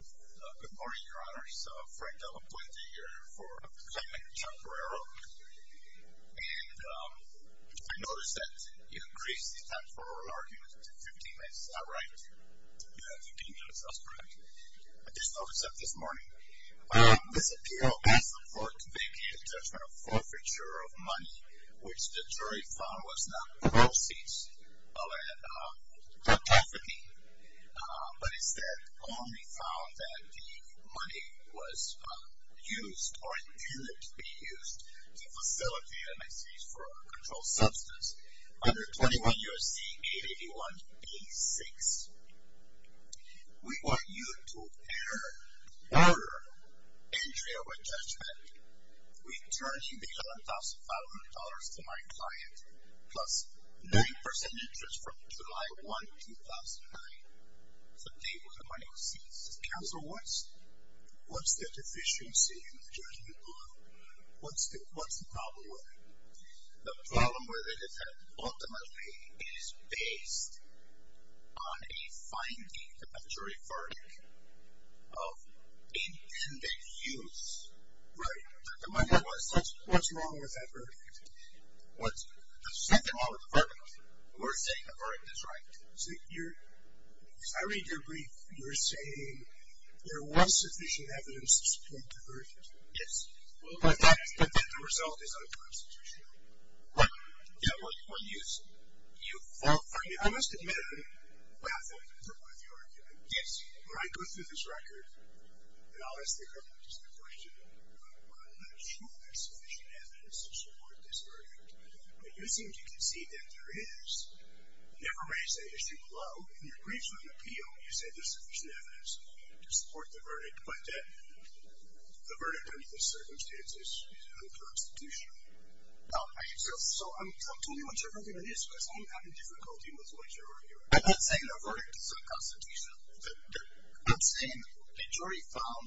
Good morning, your honors. Frank Della Puente here for the claimant, Charles Guerrero, and I noticed that you increase the time for oral arguments to 15 minutes. Is that right? Yeah, 15 minutes. That's correct. I just noticed that this morning. This appeal is the fourth victim in the judgment of forfeiture of money, which the jury found was not proceeds, but instead only found that the money was used or intended to be used to facilitate an excuse for a controlled substance under 21 U.S.C. 881b6. We want you to order entry of a judgment returning the $11,500 to my client plus 9% interest from July 1, 2009 to pay for the money received. Counsel, what's the deficiency in the judgment? What's the problem with it? The problem with it is that ultimately it is based on a finding of a jury verdict of intended use. Right. What's wrong with that verdict? What's wrong with the verdict? We're saying the verdict is right. See, as I read your brief, you're saying there was sufficient evidence to support the verdict. Yes. But the result is unconstitutional. What? I must admit I'm baffled with your argument. Yes. When I go through this record, and I'll ask the government just a question, I'm not sure there's sufficient evidence to support this verdict. But you seem to concede that there is. Never raise that issue below. In your briefs on the appeal, you say there's sufficient evidence to support the verdict, but that the verdict under these circumstances is unconstitutional. So I'm totally not sure what your argument is, because I'm having difficulty with what you're arguing. I'm not saying the verdict is unconstitutional. I'm saying the jury found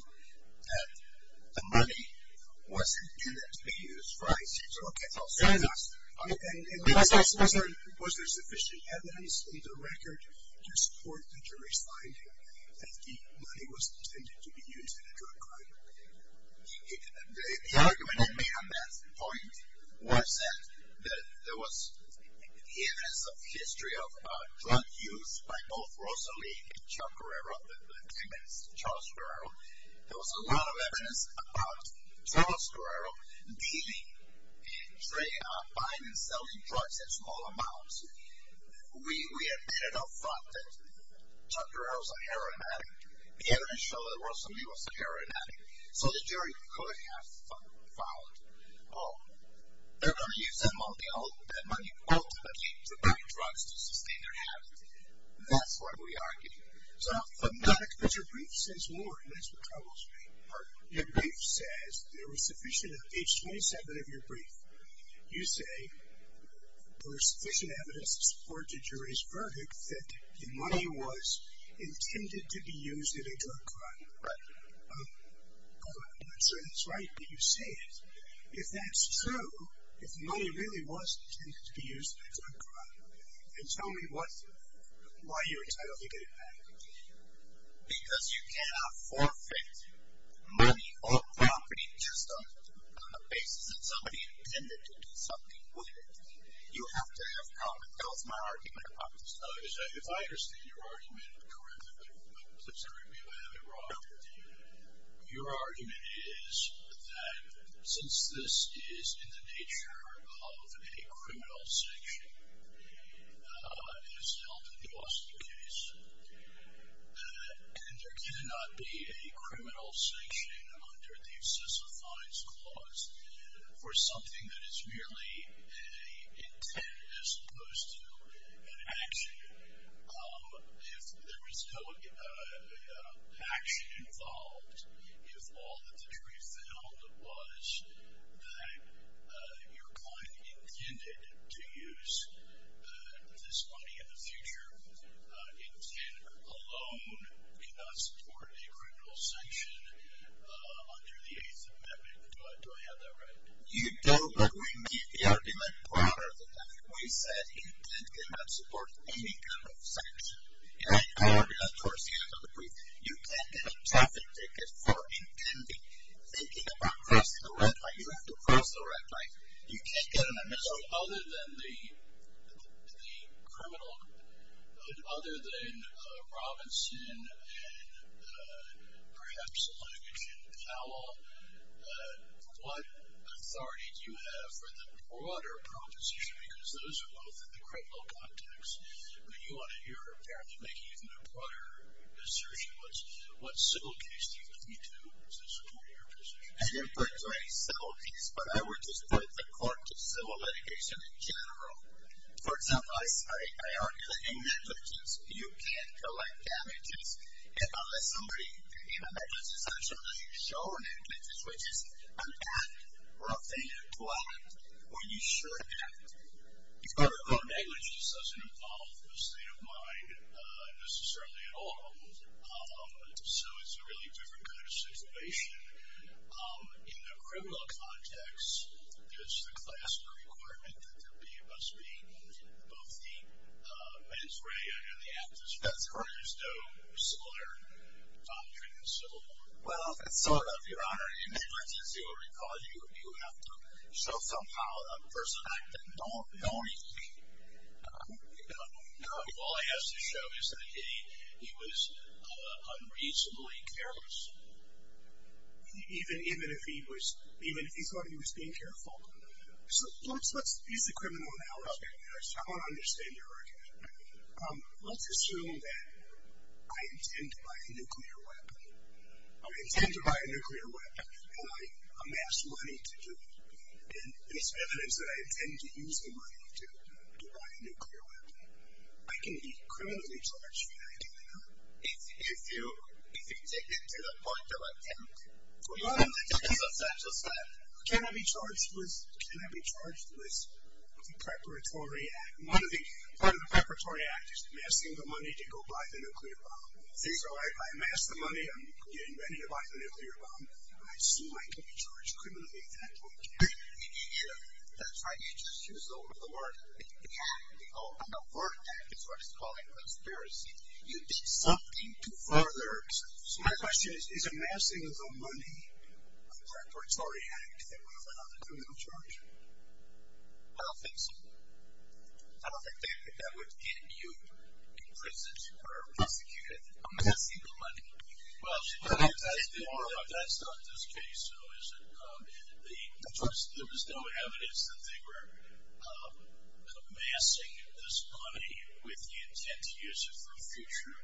that the money wasn't intended to be used. Right. And was there sufficient evidence in the record to support the jury's finding that the money wasn't intended to be used in a drug crime? The argument I made on that point was that there was evidence of history of drug use by both Rosalie Chacarero and Charles Chacarero. There was a lot of evidence about Charles Chacarero dealing, buying and selling drugs in small amounts. We admitted or thought that Chacarero was a heroin addict. The evidence showed that Rosalie was a heroin addict, so the jury could have found, oh, they're going to use that money ultimately to buy drugs to sustain their habit. That's what we argued. So I'm not accustomed to your brief since Ward, and that's what troubles me. Your brief says there was sufficient evidence. In page 27 of your brief, you say there was sufficient evidence to support the jury's verdict that the money was intended to be used in a drug crime. Right. So that's right that you say it. If that's true, if the money really was intended to be used in a drug crime, then tell me why you're entitled to get it back. Because you cannot forfeit money or property just on the basis that somebody intended to do something with it. You have to have comment. Tell us my argument about this. If I understand your argument correctly, please correct me if I have it wrong, your argument is that since this is in the nature of a criminal section, it is held in the Austin case, and there cannot be a criminal sanction under the Assess of Fines clause for something that is merely an intent as opposed to an action. If there was no action involved, if all that the jury found was that your client intended to use this money in the future, intent alone cannot support a criminal sanction under the Eighth Amendment. Do I have that right? You don't, but we made the argument broader than that. We said intent cannot support any kind of sanction. In my argument towards the end of the brief, you can't get a traffic ticket for intending, thinking about crossing a red light. You have to cross the red light. You can't get an amendment. So other than the criminal, other than Robinson and perhaps a language in Powell, what authority do you have for the broader proposition? Because those are both in the criminal context. But you want to hear apparently even a broader assertion. What civil case do you look into? What's the scope of your position? I didn't portray civil case, but I would just put the court to civil litigation in general. For example, I argue that in negligence you can't collect damages. And unless somebody, in a negligence, I'm sure unless you show negligence, which is an act or a thing you've done or you should act, or negligence doesn't involve the state of mind necessarily at all. So it's a really different kind of situation. In the criminal context, it's the class requirement that there must be both the mens rea and the aptus. There's no similar doctrine in civil law. Well, sort of, Your Honor. In negligence, you will recall, you have to show somehow a person acting. Don't you think? No. All I have to show is that he was unreasonably careless. Even if he thought he was being careful. So let's use the criminal analogy. I want to understand your argument. Let's assume that I intend to buy a nuclear weapon. I intend to buy a nuclear weapon, and I amass money to do it. And it's evidence that I intend to use the money to buy a nuclear weapon. I can be criminally charged for that, can I not? If you take it to the point of attempt. Well, Your Honor, let's use a factual step. Can I be charged with the preparatory act? Part of the preparatory act is amassing the money to go buy the nuclear bomb. So I amass the money, I'm getting ready to buy the nuclear bomb. I assume I can be charged criminally at that point. That's right. You just used the word act. The word act is what is called a conspiracy. You did something to further. So my question is, is amassing the money a preparatory act that would allow the criminal charge? I don't think so. I don't think that would get you imprisoned or executed. Amassing the money. Well, Your Honor, that's not this case, though, is it? There was no evidence that they were amassing this money with the intent to use it for future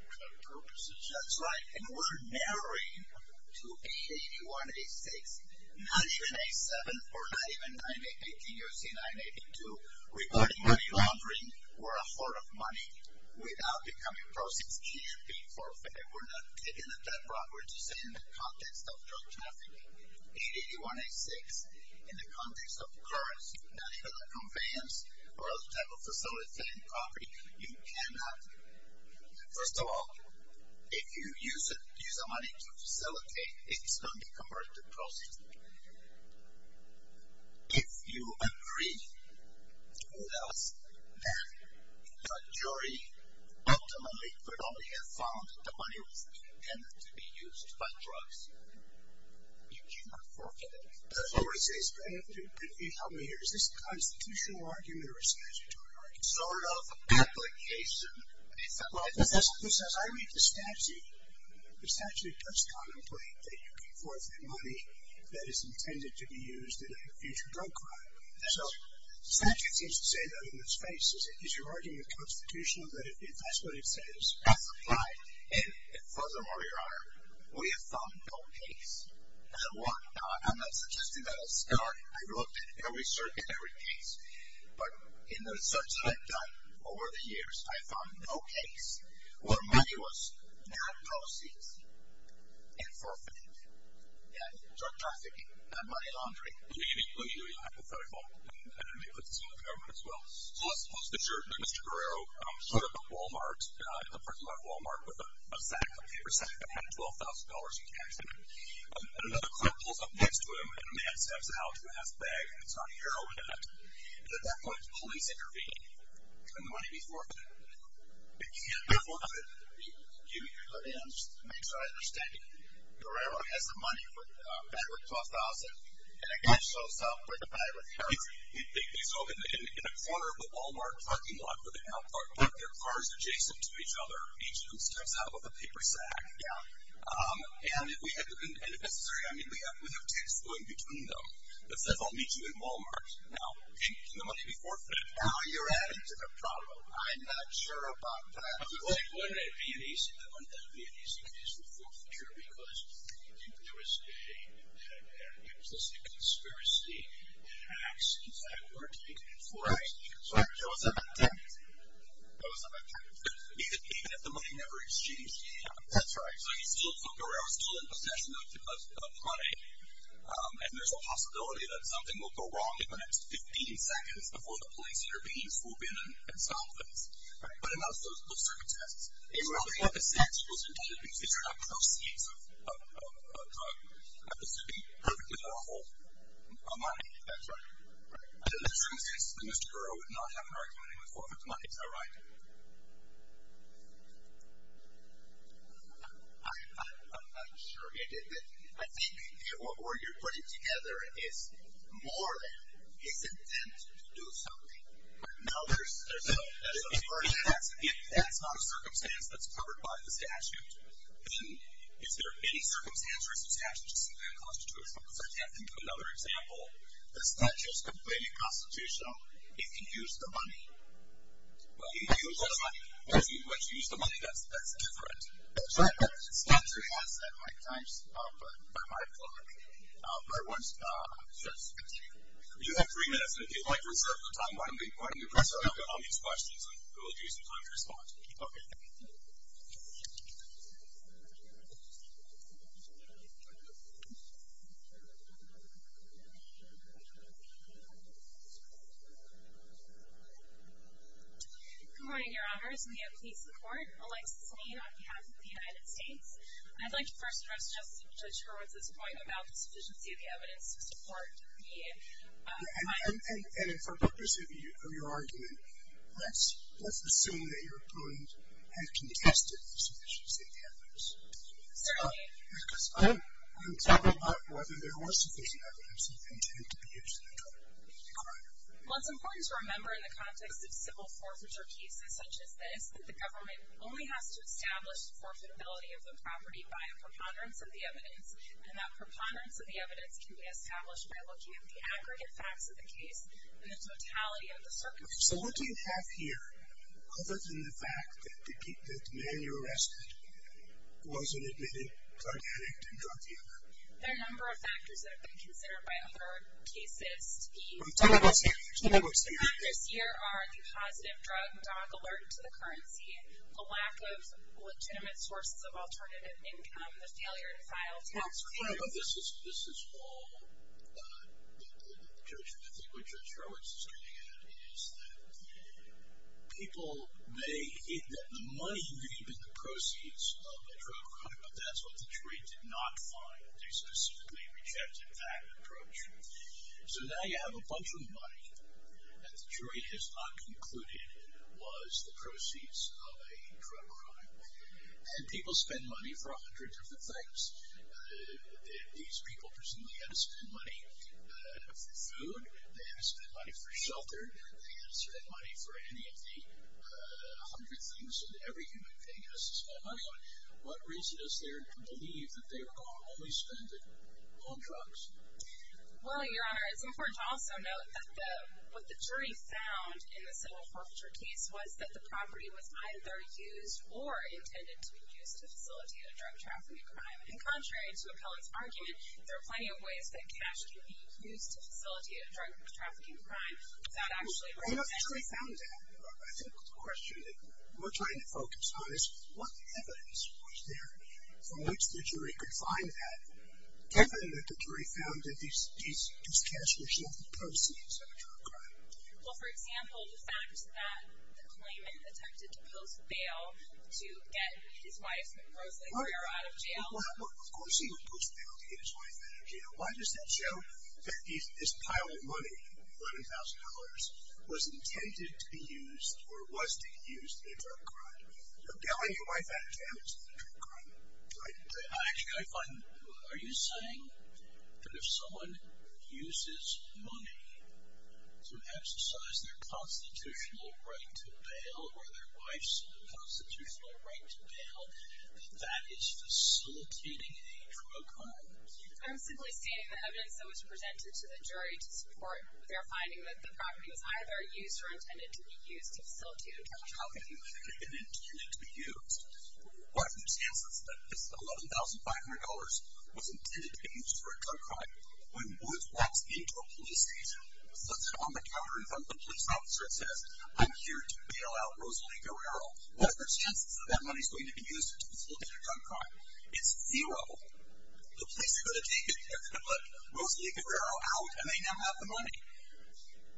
purposes. That's right. And we're narrowing to 881-86, not even 8-7, or not even 9-8-18. You see 9-8-2. Regarding money laundering, we're a hoard of money without becoming proceeds. We're not taking it that far. We're just saying in the context of drug trafficking, 881-86, in the context of currency, not even a conveyance or other type of facility and property, you cannot. First of all, if you use the money to facilitate, it's going to be converted to proceeds. If you agree to what else, then the jury ultimately could only have found that the money was intended to be used by drugs. You cannot forfeit it. I have to ask you to help me here. Is this a constitutional argument or a statutory argument? It's sort of an application. I read the statute. The statute does contemplate that you can forfeit money that is intended to be used in a future drug crime. So the statute seems to say that in its face. Is your argument constitutional that that's what it says? That's applied. And furthermore, Your Honor, we have found no case. And why? Now, I'm not suggesting that I looked at every certain case. But in the research that I've done over the years, I've found no case where money was not proceeds and forfeited, and drug trafficking, not money laundering. Let me be really hypothetical and maybe put this in the government as well. So let's suppose that Mr. Guerrero showed up at Wal-Mart, at the parking lot of Wal-Mart with a sack, a paper sack that had $12,000 in cash in it. And another clerk pulls up next to him, and a man steps out who has a bag that's got heroin in it. At that point, the police intervene. Can the money be forfeited? It can't be forfeited. Excuse me, Your Honor, just to make sure I understand you. Guerrero has the money for the bag with $12,000, and a guy shows up with a bag with heroin. So in a corner of the Wal-Mart parking lot with an outcourt, put their cars adjacent to each other, each of them steps out with a paper sack. Yeah. And if necessary, I mean, we have text going between them that says, I'll meet you in Wal-Mart. Now, can the money be forfeited? Now you're adding to the problem. I'm not sure about that. Wouldn't it be an easy case for forfeiture because there was a conspiracy, and acts in fact were taken in force. Right. So it was a bad time. It was a bad time. Even if the money never exchanged. That's right. So he's still, so Guerrero's still in possession of the money, and there's a possibility that something will go wrong in the next 15 seconds before the police intervenes, who'll be in and solve things. Right. But it's not those sort of tests. It's where they have the sacks, it was intended because these are not proceeds of the suit being perfectly lawful money. That's right. Right. The truth is that Mr. Guerrero would not have an argument with forfeit money. Is that right? I'm sure he did that. I think what you're putting together is more than his intent to do something. Now there's a further test. If that's not a circumstance that's covered by the statute, then is there any circumstances where the statute is simply unconstitutional? Another example, the statute is completely constitutional if you use the money. Well, you use the money. When you use the money, that's different. That's right. The statute has, at my times, by my book, by one's choice. You have three minutes, and if you'd like to reserve the time while I'm being quite impressive, I'll get all these questions and we'll give you some time to respond. Okay. Good morning, Your Honors, and may it please the Court. Alexis Lane on behalf of the United States. I'd like to first address Justice Judge Hurwitz's point about the sufficiency of the evidence to support the findings. And for purpose of your argument, let's assume that your opponent has contested the sufficiency of the evidence. Certainly. Because I'm talking about whether there was sufficient evidence of intent to be used in the crime. Well, it's important to remember in the context of civil forfeiture cases such as this that the government only has to establish the forfeitability of the property by a preponderance of the evidence, and that preponderance of the evidence can be established by looking at the aggregate facts of the case and the totality of the circumstances. So what do you have here other than the fact that the man you arrested wasn't indeed a drug addict and drug dealer? There are a number of factors that have been considered by other cases to be... Well, tell them what's here. The factors here are the positive drug dog alert to the currency, a lack of legitimate sources of alternative income, the failure to file tax returns. Well, this is all, I think what Judge Hurwitz is getting at, is that people may think that the money may have been the proceeds of a drug crime, but that's what the jury did not find. They specifically rejected that approach. So now you have a bunch of money that the jury has not concluded was the proceeds of a drug crime. And people spend money for hundreds of different things. These people presumably had to spend money for food. They had to spend money for shelter. They had to spend money for any of the hundred things that every human being has to spend money on. What reason is there to believe that they were only spending on drugs? Well, Your Honor, it's important to also note that what the jury found in the civil forfeiture case was that the property was either used or intended to be used to facilitate a drug trafficking crime. And contrary to Appellant's argument, there are plenty of ways that cash can be used to facilitate a drug trafficking crime. Well, the jury found that. I think the question that we're trying to focus on is, what evidence was there from which the jury could find that? Evidence that the jury found that this cash was not the proceeds of a drug crime. Well, for example, the fact that the claimant attempted to post bail to get his wife, Ms. Rosalie, for her out of jail. Well, of course he would post bail to get his wife out of jail. Why does that show that this pile of money, $11,000, was intended to be used or was to be used in a drug crime? A bailing your wife out of jail is not a drug crime, right? Actually, I find, are you saying that if someone uses money to exercise their constitutional right to bail or their wife's constitutional right to bail, that that is facilitating a drug crime? I'm simply stating the evidence that was presented to the jury to support their finding that the property was either used or intended to be used to facilitate a drug crime. Property intended to be used. What are the chances that this $11,500 was intended to be used for a drug crime when Woods walks into a police station, sits on the counter in front of a police officer, and says, I'm here to bail out Rosalie Guerrero. What are the chances that that money is going to be used to facilitate a drug crime? It's zero. The police are going to take it, they're going to put Rosalie Guerrero out, and they now have the money.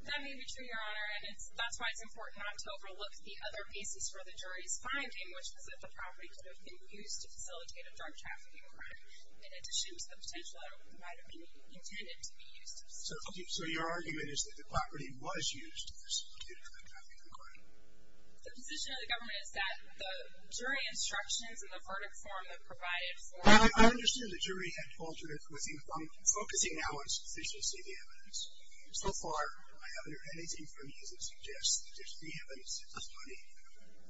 That may be true, Your Honor, and that's why it's important not to overlook the other pieces for the jury's finding, which was that the property could have been used to facilitate a drug trafficking crime in addition to the potential that it might have been intended to be used. So your argument is that the property was used to facilitate a drug trafficking crime? The position of the government is that the jury instructions and the verdict form that provided for it... I understand the jury had altered it, but I'm focusing now on sufficiently the evidence. So far, I haven't heard anything from you that suggests that the evidence of money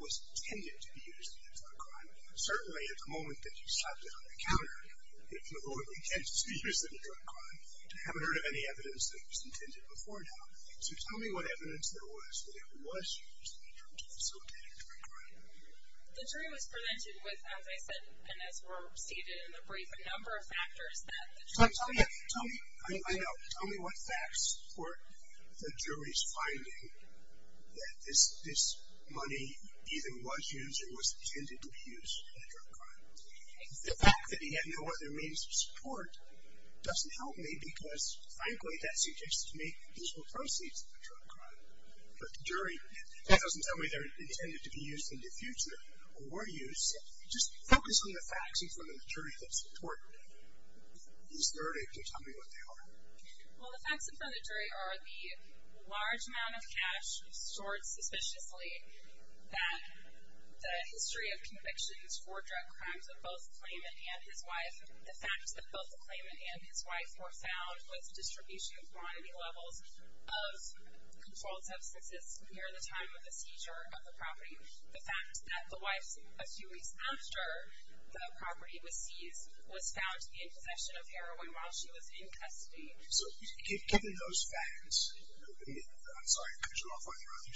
was intended to be used in a drug crime. Certainly, at the moment that you slapped it on the counter, it's the Lord's intent to use it in a drug crime. I haven't heard of any evidence that it was intended before now. So tell me what evidence there was that it was used to facilitate a drug crime. The jury was presented with, as I said and as were stated in the brief, a number of factors that the jury... I know. Tell me what facts support the jury's finding that this money either was used or was intended to be used in a drug crime. The fact that he had no other means of support doesn't help me because, frankly, that suggests to me these were proceeds of a drug crime. But the jury doesn't tell me they're intended to be used in the future or were used. Just focus on the facts in front of the jury that support this verdict and tell me what they are. Well, the facts in front of the jury are the large amount of cash stored suspiciously, that the history of convictions for drug crimes of both the claimant and his wife, were found with distribution of quantity levels of controlled substances near the time of the seizure of the property. The fact that the wife, a few weeks after the property was seized, was found in possession of heroin while she was in custody. So given those facts, I'm sorry, could you go off on your own?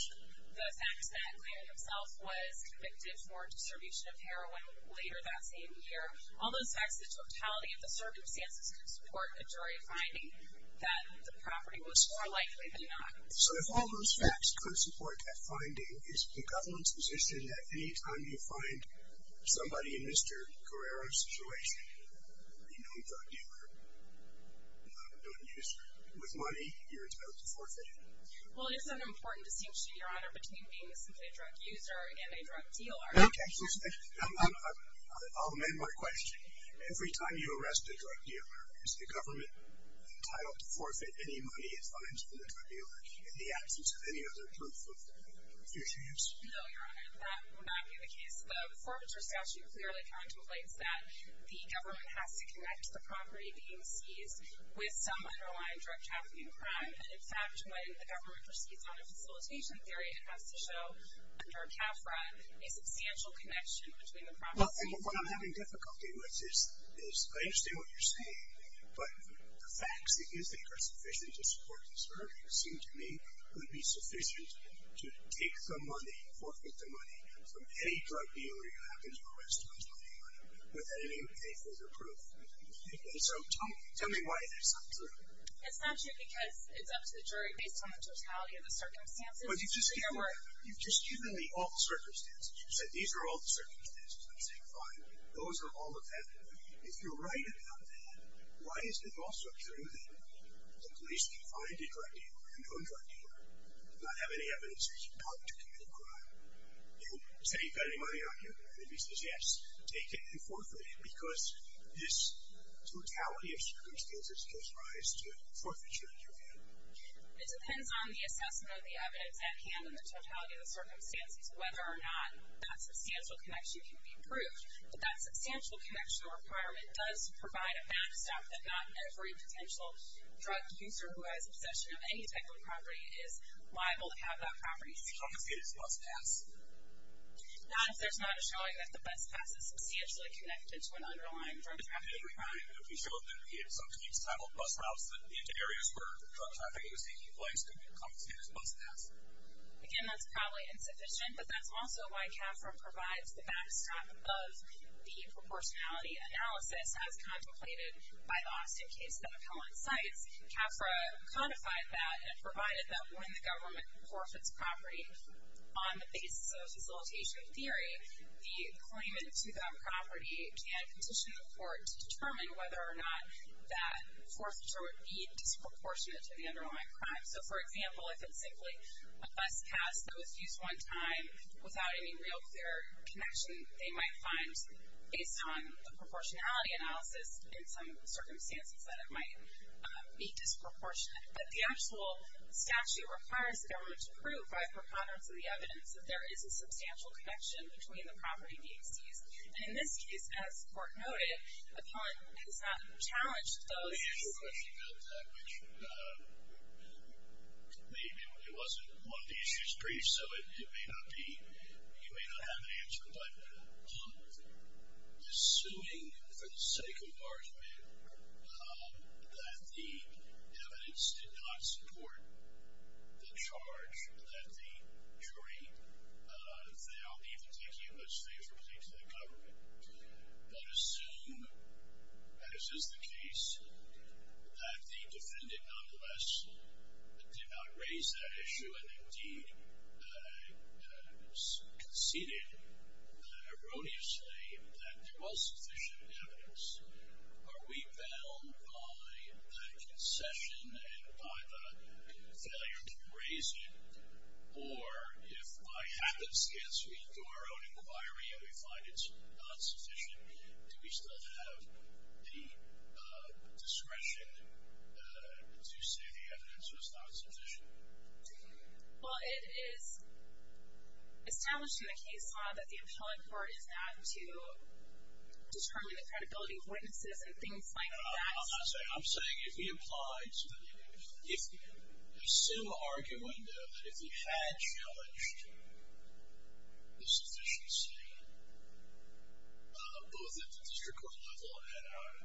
The fact that Clarence himself was convicted for distribution of heroin later that same year, all those facts, the totality of the circumstances, could support a jury finding that the property was more likely than not. So if all those facts could support that finding, is the government's position that any time you find somebody in Mr. Guerrero's situation, a known drug dealer, a known user, with money, you're entitled to forfeit it? Well, it is an important distinction, Your Honor, between being a simply a drug user and a drug dealer. Okay, I'll amend my question. Every time you arrest a drug dealer, is the government entitled to forfeit any money it finds from the drug dealer in the absence of any other proof of use? No, Your Honor, that would not be the case. The forfeiture statute clearly contemplates that the government has to connect the property being seized with some underlying drug trafficking crime. And in fact, when the government proceeds on a facilitation theory, it has to show, under CAFRA, a substantial connection between the property and the drug dealer. Well, what I'm having difficulty with is, I understand what you're saying, but the facts that you think are sufficient to support this verdict, it seems to me, would be sufficient to take the money, forfeit the money, from any drug dealer you have in your arrest without any proof. And so tell me why that's not true. It's not true because it's up to the jury. It's based on the totality of the circumstances. But you've just given me all the circumstances. You've said these are all the circumstances. I'm saying, fine, those are all of them. If you're right about that, why isn't it also true that the police can find a drug dealer and no drug dealer will not have any evidence that he helped to commit a crime? And say, you've got any money on you? And the police says, yes. Take it and forfeit it because this totality of circumstances gives rise to forfeiture, Your Honor. It depends on the assessment of the evidence at hand and the totality of the circumstances whether or not that substantial connection can be proved. But that substantial connection requirement does provide a backstop that not every potential drug user who has possession of any type of property is liable to have that property seized. How can you say this is a bus pass? Not if there's not a showing that the bus pass is substantially connected to an underlying drug trafficking crime. Again, that's probably insufficient, but that's also why CAFRA provides the backstop of the proportionality analysis as contemplated by the Austin case that Appellant cites. CAFRA codified that and provided that when the government forfeits property on the basis of facilitation theory, the claimant to that property can petition the court to determine whether or not that forfeiture would be disproportionate to the underlying crime. So, for example, if it's simply a bus pass that was used one time without any real clear connection, they might find based on the proportionality analysis in some circumstances that it might be disproportionate. But the actual statute requires the government to prove by preponderance of the evidence that there is a substantial connection between the property being seized. And in this case, as the court noted, Appellant has not challenged those issues. I have a question about that, which maybe it wasn't one of the issues briefed, so you may not have an answer, but assuming for the sake of argument that the evidence did not support the charge or that the jury found the particulars favorably to the government, but assume, as is the case, that the defendant nonetheless did not raise that issue and indeed conceded erroneously that there was sufficient evidence, are we bound by the concession and by the failure to raise it? Or if by happenstance we do our own inquiry and we find it's not sufficient, do we still have the discretion to say the evidence was not sufficient? Well, it is established in the case law that the Appellant Court is not to determine the credibility of witnesses and things like that. I'm not saying that. I'm saying if he applied to the evidence, if there's some argument, though, that if he had challenged the sufficiency, both at the district court level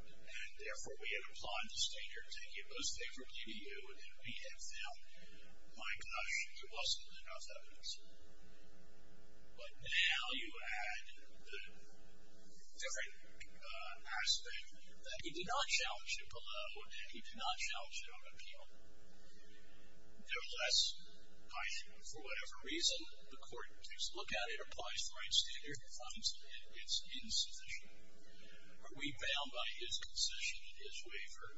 and therefore we had applied this danger to take it most favorably to you and we had found, my gosh, there wasn't enough evidence, but now you add the different aspect that he did not challenge it below and he did not challenge it on appeal. Nevertheless, for whatever reason, the court takes a look at it, applies the right standard, finds that it's insufficient. Are we bound by his concession, his waiver,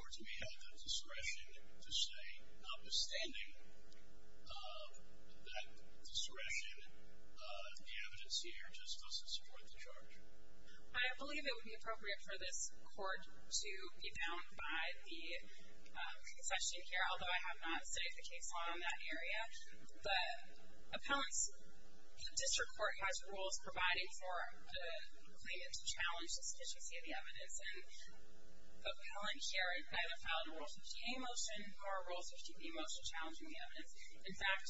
or do we have the discretion to say, notwithstanding that discretion, the evidence here just doesn't support the charge? I believe it would be appropriate for this court to be bound by the concession here, although I have not studied the case law in that area. But Appellant's district court has rules providing for the claimant to challenge the sufficiency of the evidence, and Appellant here either filed a Rule 15a motion or a Rule 15b motion challenging the evidence. In fact,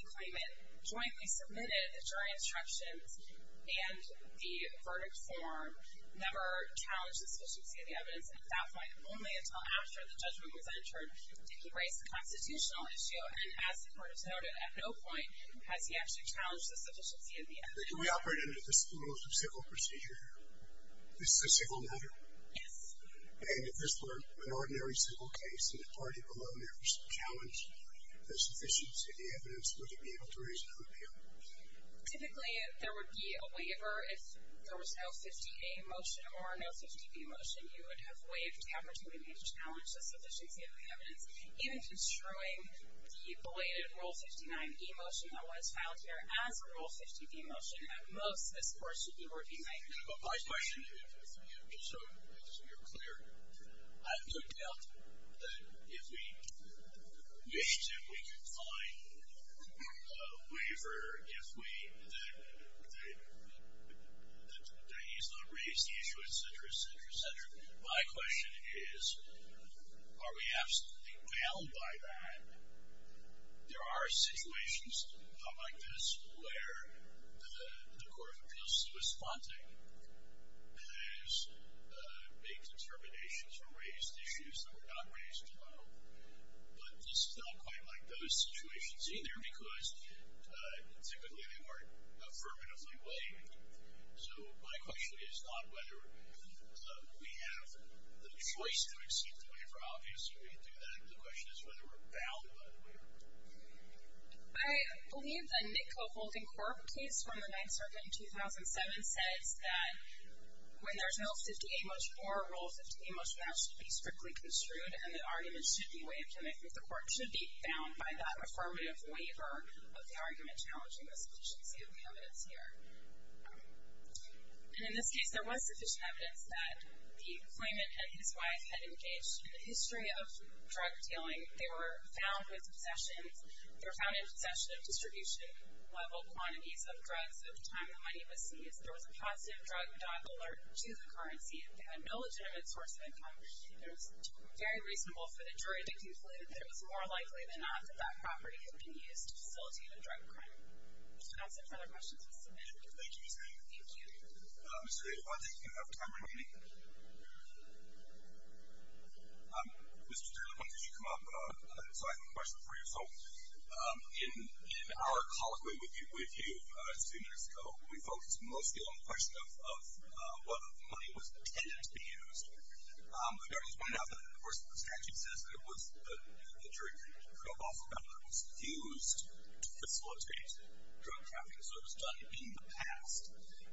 the claimant jointly submitted the jury instructions and the verdict form, never challenged the sufficiency of the evidence, and that was only until after the judgment was entered did he raise the constitutional issue, and as the court has noted, at no point has he actually challenged the sufficiency of the evidence. Can we operate under the rules of civil procedure here? This is a civil matter? Yes. And if this were an ordinary civil case, and the party below never challenged the sufficiency of the evidence, would it be able to raise an appeal? Typically, there would be a waiver if there was no 15a motion or no 15b motion. You would have waived the opportunity to challenge the sufficiency of the evidence in destroying the belated Rule 59b motion that was filed here as a Rule 15b motion that most of this court should be working by. My question, just so you're clear, I have no doubt that if we need to, we can find a waiver if we, that he's not raised the issue, et cetera, et cetera, et cetera. My question is, are we absolutely bound by that? There are situations like this where the Court of Appeals is responding and has made determinations or raised issues that were not raised at all. But this is not quite like those situations either because typically they aren't affirmatively waived. So my question is not whether we have the choice to exceed the waiver. Obviously, we can do that. The question is whether we're bound by the waiver. I believe the Nicco-Holden Corp case from the 9th Circuit in 2007 says that when there's no 15a motion or a Rule 15b motion, that should be strictly construed and the argument should be waived. And I think the Court should be bound by that affirmative waiver of the argument challenging the sufficiency of the evidence here. And in this case, there was sufficient evidence that the claimant and his wife had engaged in a history of drug dealing. They were found with possessions. They were found in possession of distribution-level quantities of drugs at the time the money was seized. There was a positive drug dog alert to the currency. If they had no legitimate source of income, it was very reasonable for the jury to conclude that it was more likely than not that that property had been used to facilitate a drug crime. Do we have some further questions on this amendment? Thank you, Ms. Mayer. Thank you. Mr. Davis, I think you have time remaining. Mr. Taylor, why don't you come up? So I have a question for you. So in our colloquy with you a few years ago, we focused mostly on the question of whether the money was intended to be used. We've already pointed out that, of course, the statute says that the jury could prove also that it was used to facilitate drug trafficking. So it was done in the past.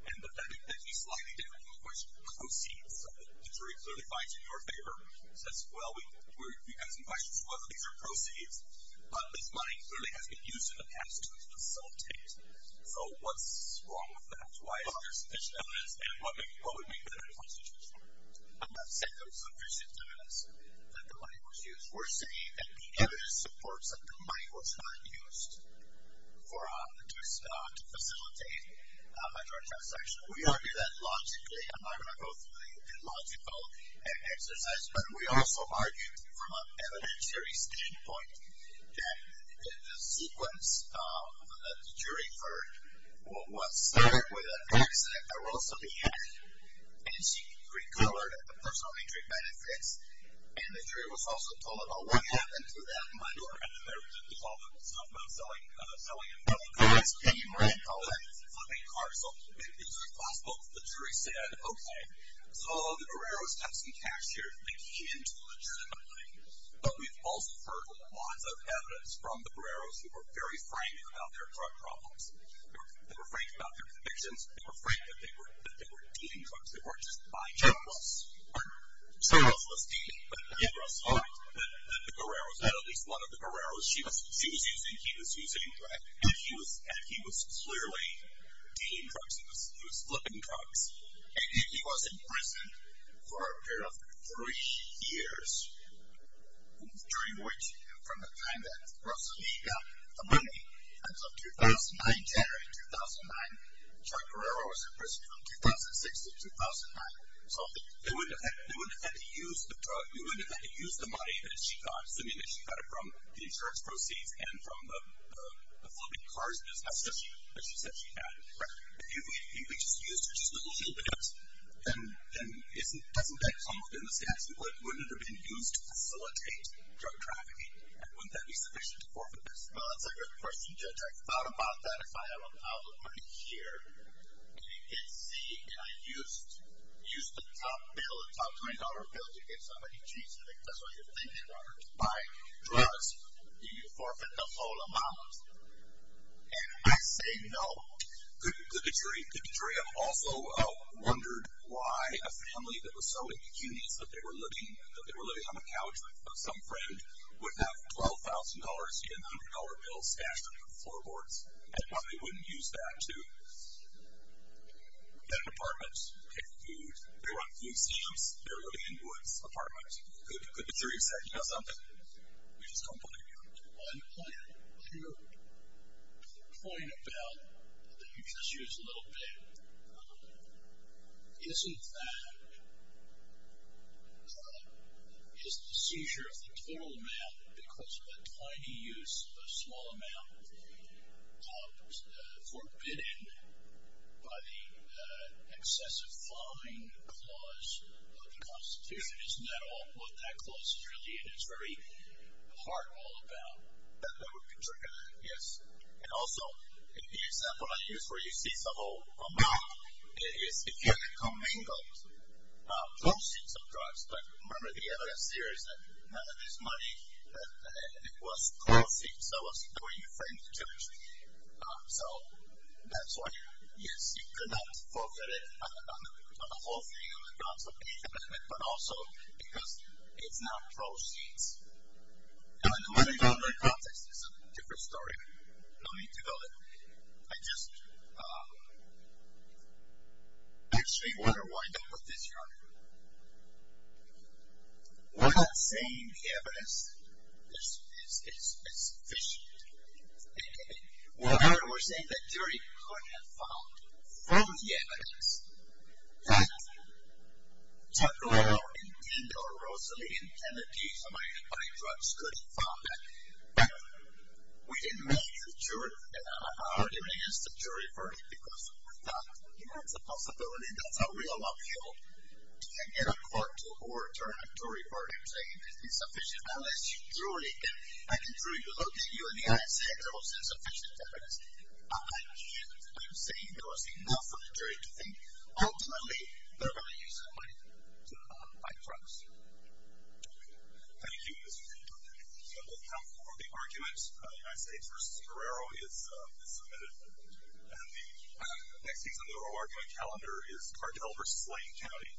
And the slightly different question, proceeds, the jury clearly finds in your favor, says, well, we have some questions whether these are proceeds, but this money clearly has been used in the past to facilitate. So what's wrong with that? Why is there sufficient evidence? And what would be the right constitution for it? I'm not saying there's sufficient evidence that the money was used. We're saying that the evidence supports that the money was not used to facilitate a drug transaction. We argue that logically. I'm not going to go through the logical exercise, but we also argue from an evidentiary standpoint that the sequence that the jury heard was started with an accident. There was an accident that arose to the end, and she recolored the personal injury benefits, and the jury was also told about what happened to that money. And then there was all the stuff about selling and selling drugs. And you read all that. It's a fucking card. So it's a class book. The jury said, okay, so the Barreros have some cash here. They came into the jury money. But we've also heard lots of evidence from the Barreros who were very frank about their drug problems. They were frank about their convictions. They were frank that they were dealing drugs. They weren't just buying drugs. Someone else was dealing. But Indra saw it, that the Barreros, that at least one of the Barreros she was using, he was using, and he was clearly dealing drugs. He was flipping drugs. And he was in prison for a period of three years, during which from the time that Rosalie got the money until January 2009, Chuck Barrero was in prison from 2006 to 2009. So they wouldn't have had to use the money that she got, assuming that she got it from the insurance proceeds and from the flipping cars business. That's what she said she had. If we just used her just a little bit, then doesn't that come within the statute? Wouldn't it have been used to facilitate drug trafficking? And wouldn't that be sufficient to forfeit this? Well, that's a good question, Judge. I thought about that. If I have an album right here, and you can see, and I used the top bill, the top $20 bill to get somebody, geez, I think that's what you're thinking, Robert, to buy drugs. Do you forfeit the whole amount? And I say no. Good to hear you. Good to hear you. I've also wondered why a family that was so indecenious that they were living on the couch of some friend would have $12,000 and a $100 bill stashed under the floorboards, and why they wouldn't use that to get an apartment, pay for food. They were on food stamps. They were living in woods, apartments. It's very exciting, isn't it? We just don't believe you. Well, your point about that you just used a little bit, isn't that just a seizure of the total amount because of a tiny use, a small amount, forbidden by the excessive filing clause of the Constitution. Isn't that all? What that clause is really and is very hard all about. That would be true. Yes. And also, the example I use where you seize the whole amount, it is if you had commingled proceeds of drugs. But remember the evidence here is that none of this money, it was proceeds that was going to your friend's church. So that's why, yes, you could not forfeit it, not the whole thing on the grounds of any commitment, but also because it's not proceeds. I don't want to go into the context. It's a different story. No need to go there. I just actually want to wind up with this argument. We're not saying the evidence is sufficient. We're saying that jury could have found from the evidence that Chuck Norrell and Dindo or Rosalie intended to buy drugs could have found that. But we didn't make the argument against the jury for it because we thought, you know, it's a possibility. That's a real uphill to get a court to overturn a jury verdict. I'm saying it's insufficient. Unless you truly can. I can truly look at you in the eye and say it was insufficient evidence. I can't. I'm saying there was enough of a jury to think, ultimately, they're going to use that money to buy drugs. Thank you, Mr. Dindo. That will come before the argument. United States v. Guerrero is submitted. And the next piece on the oral argument calendar is Cartel v. Lane County.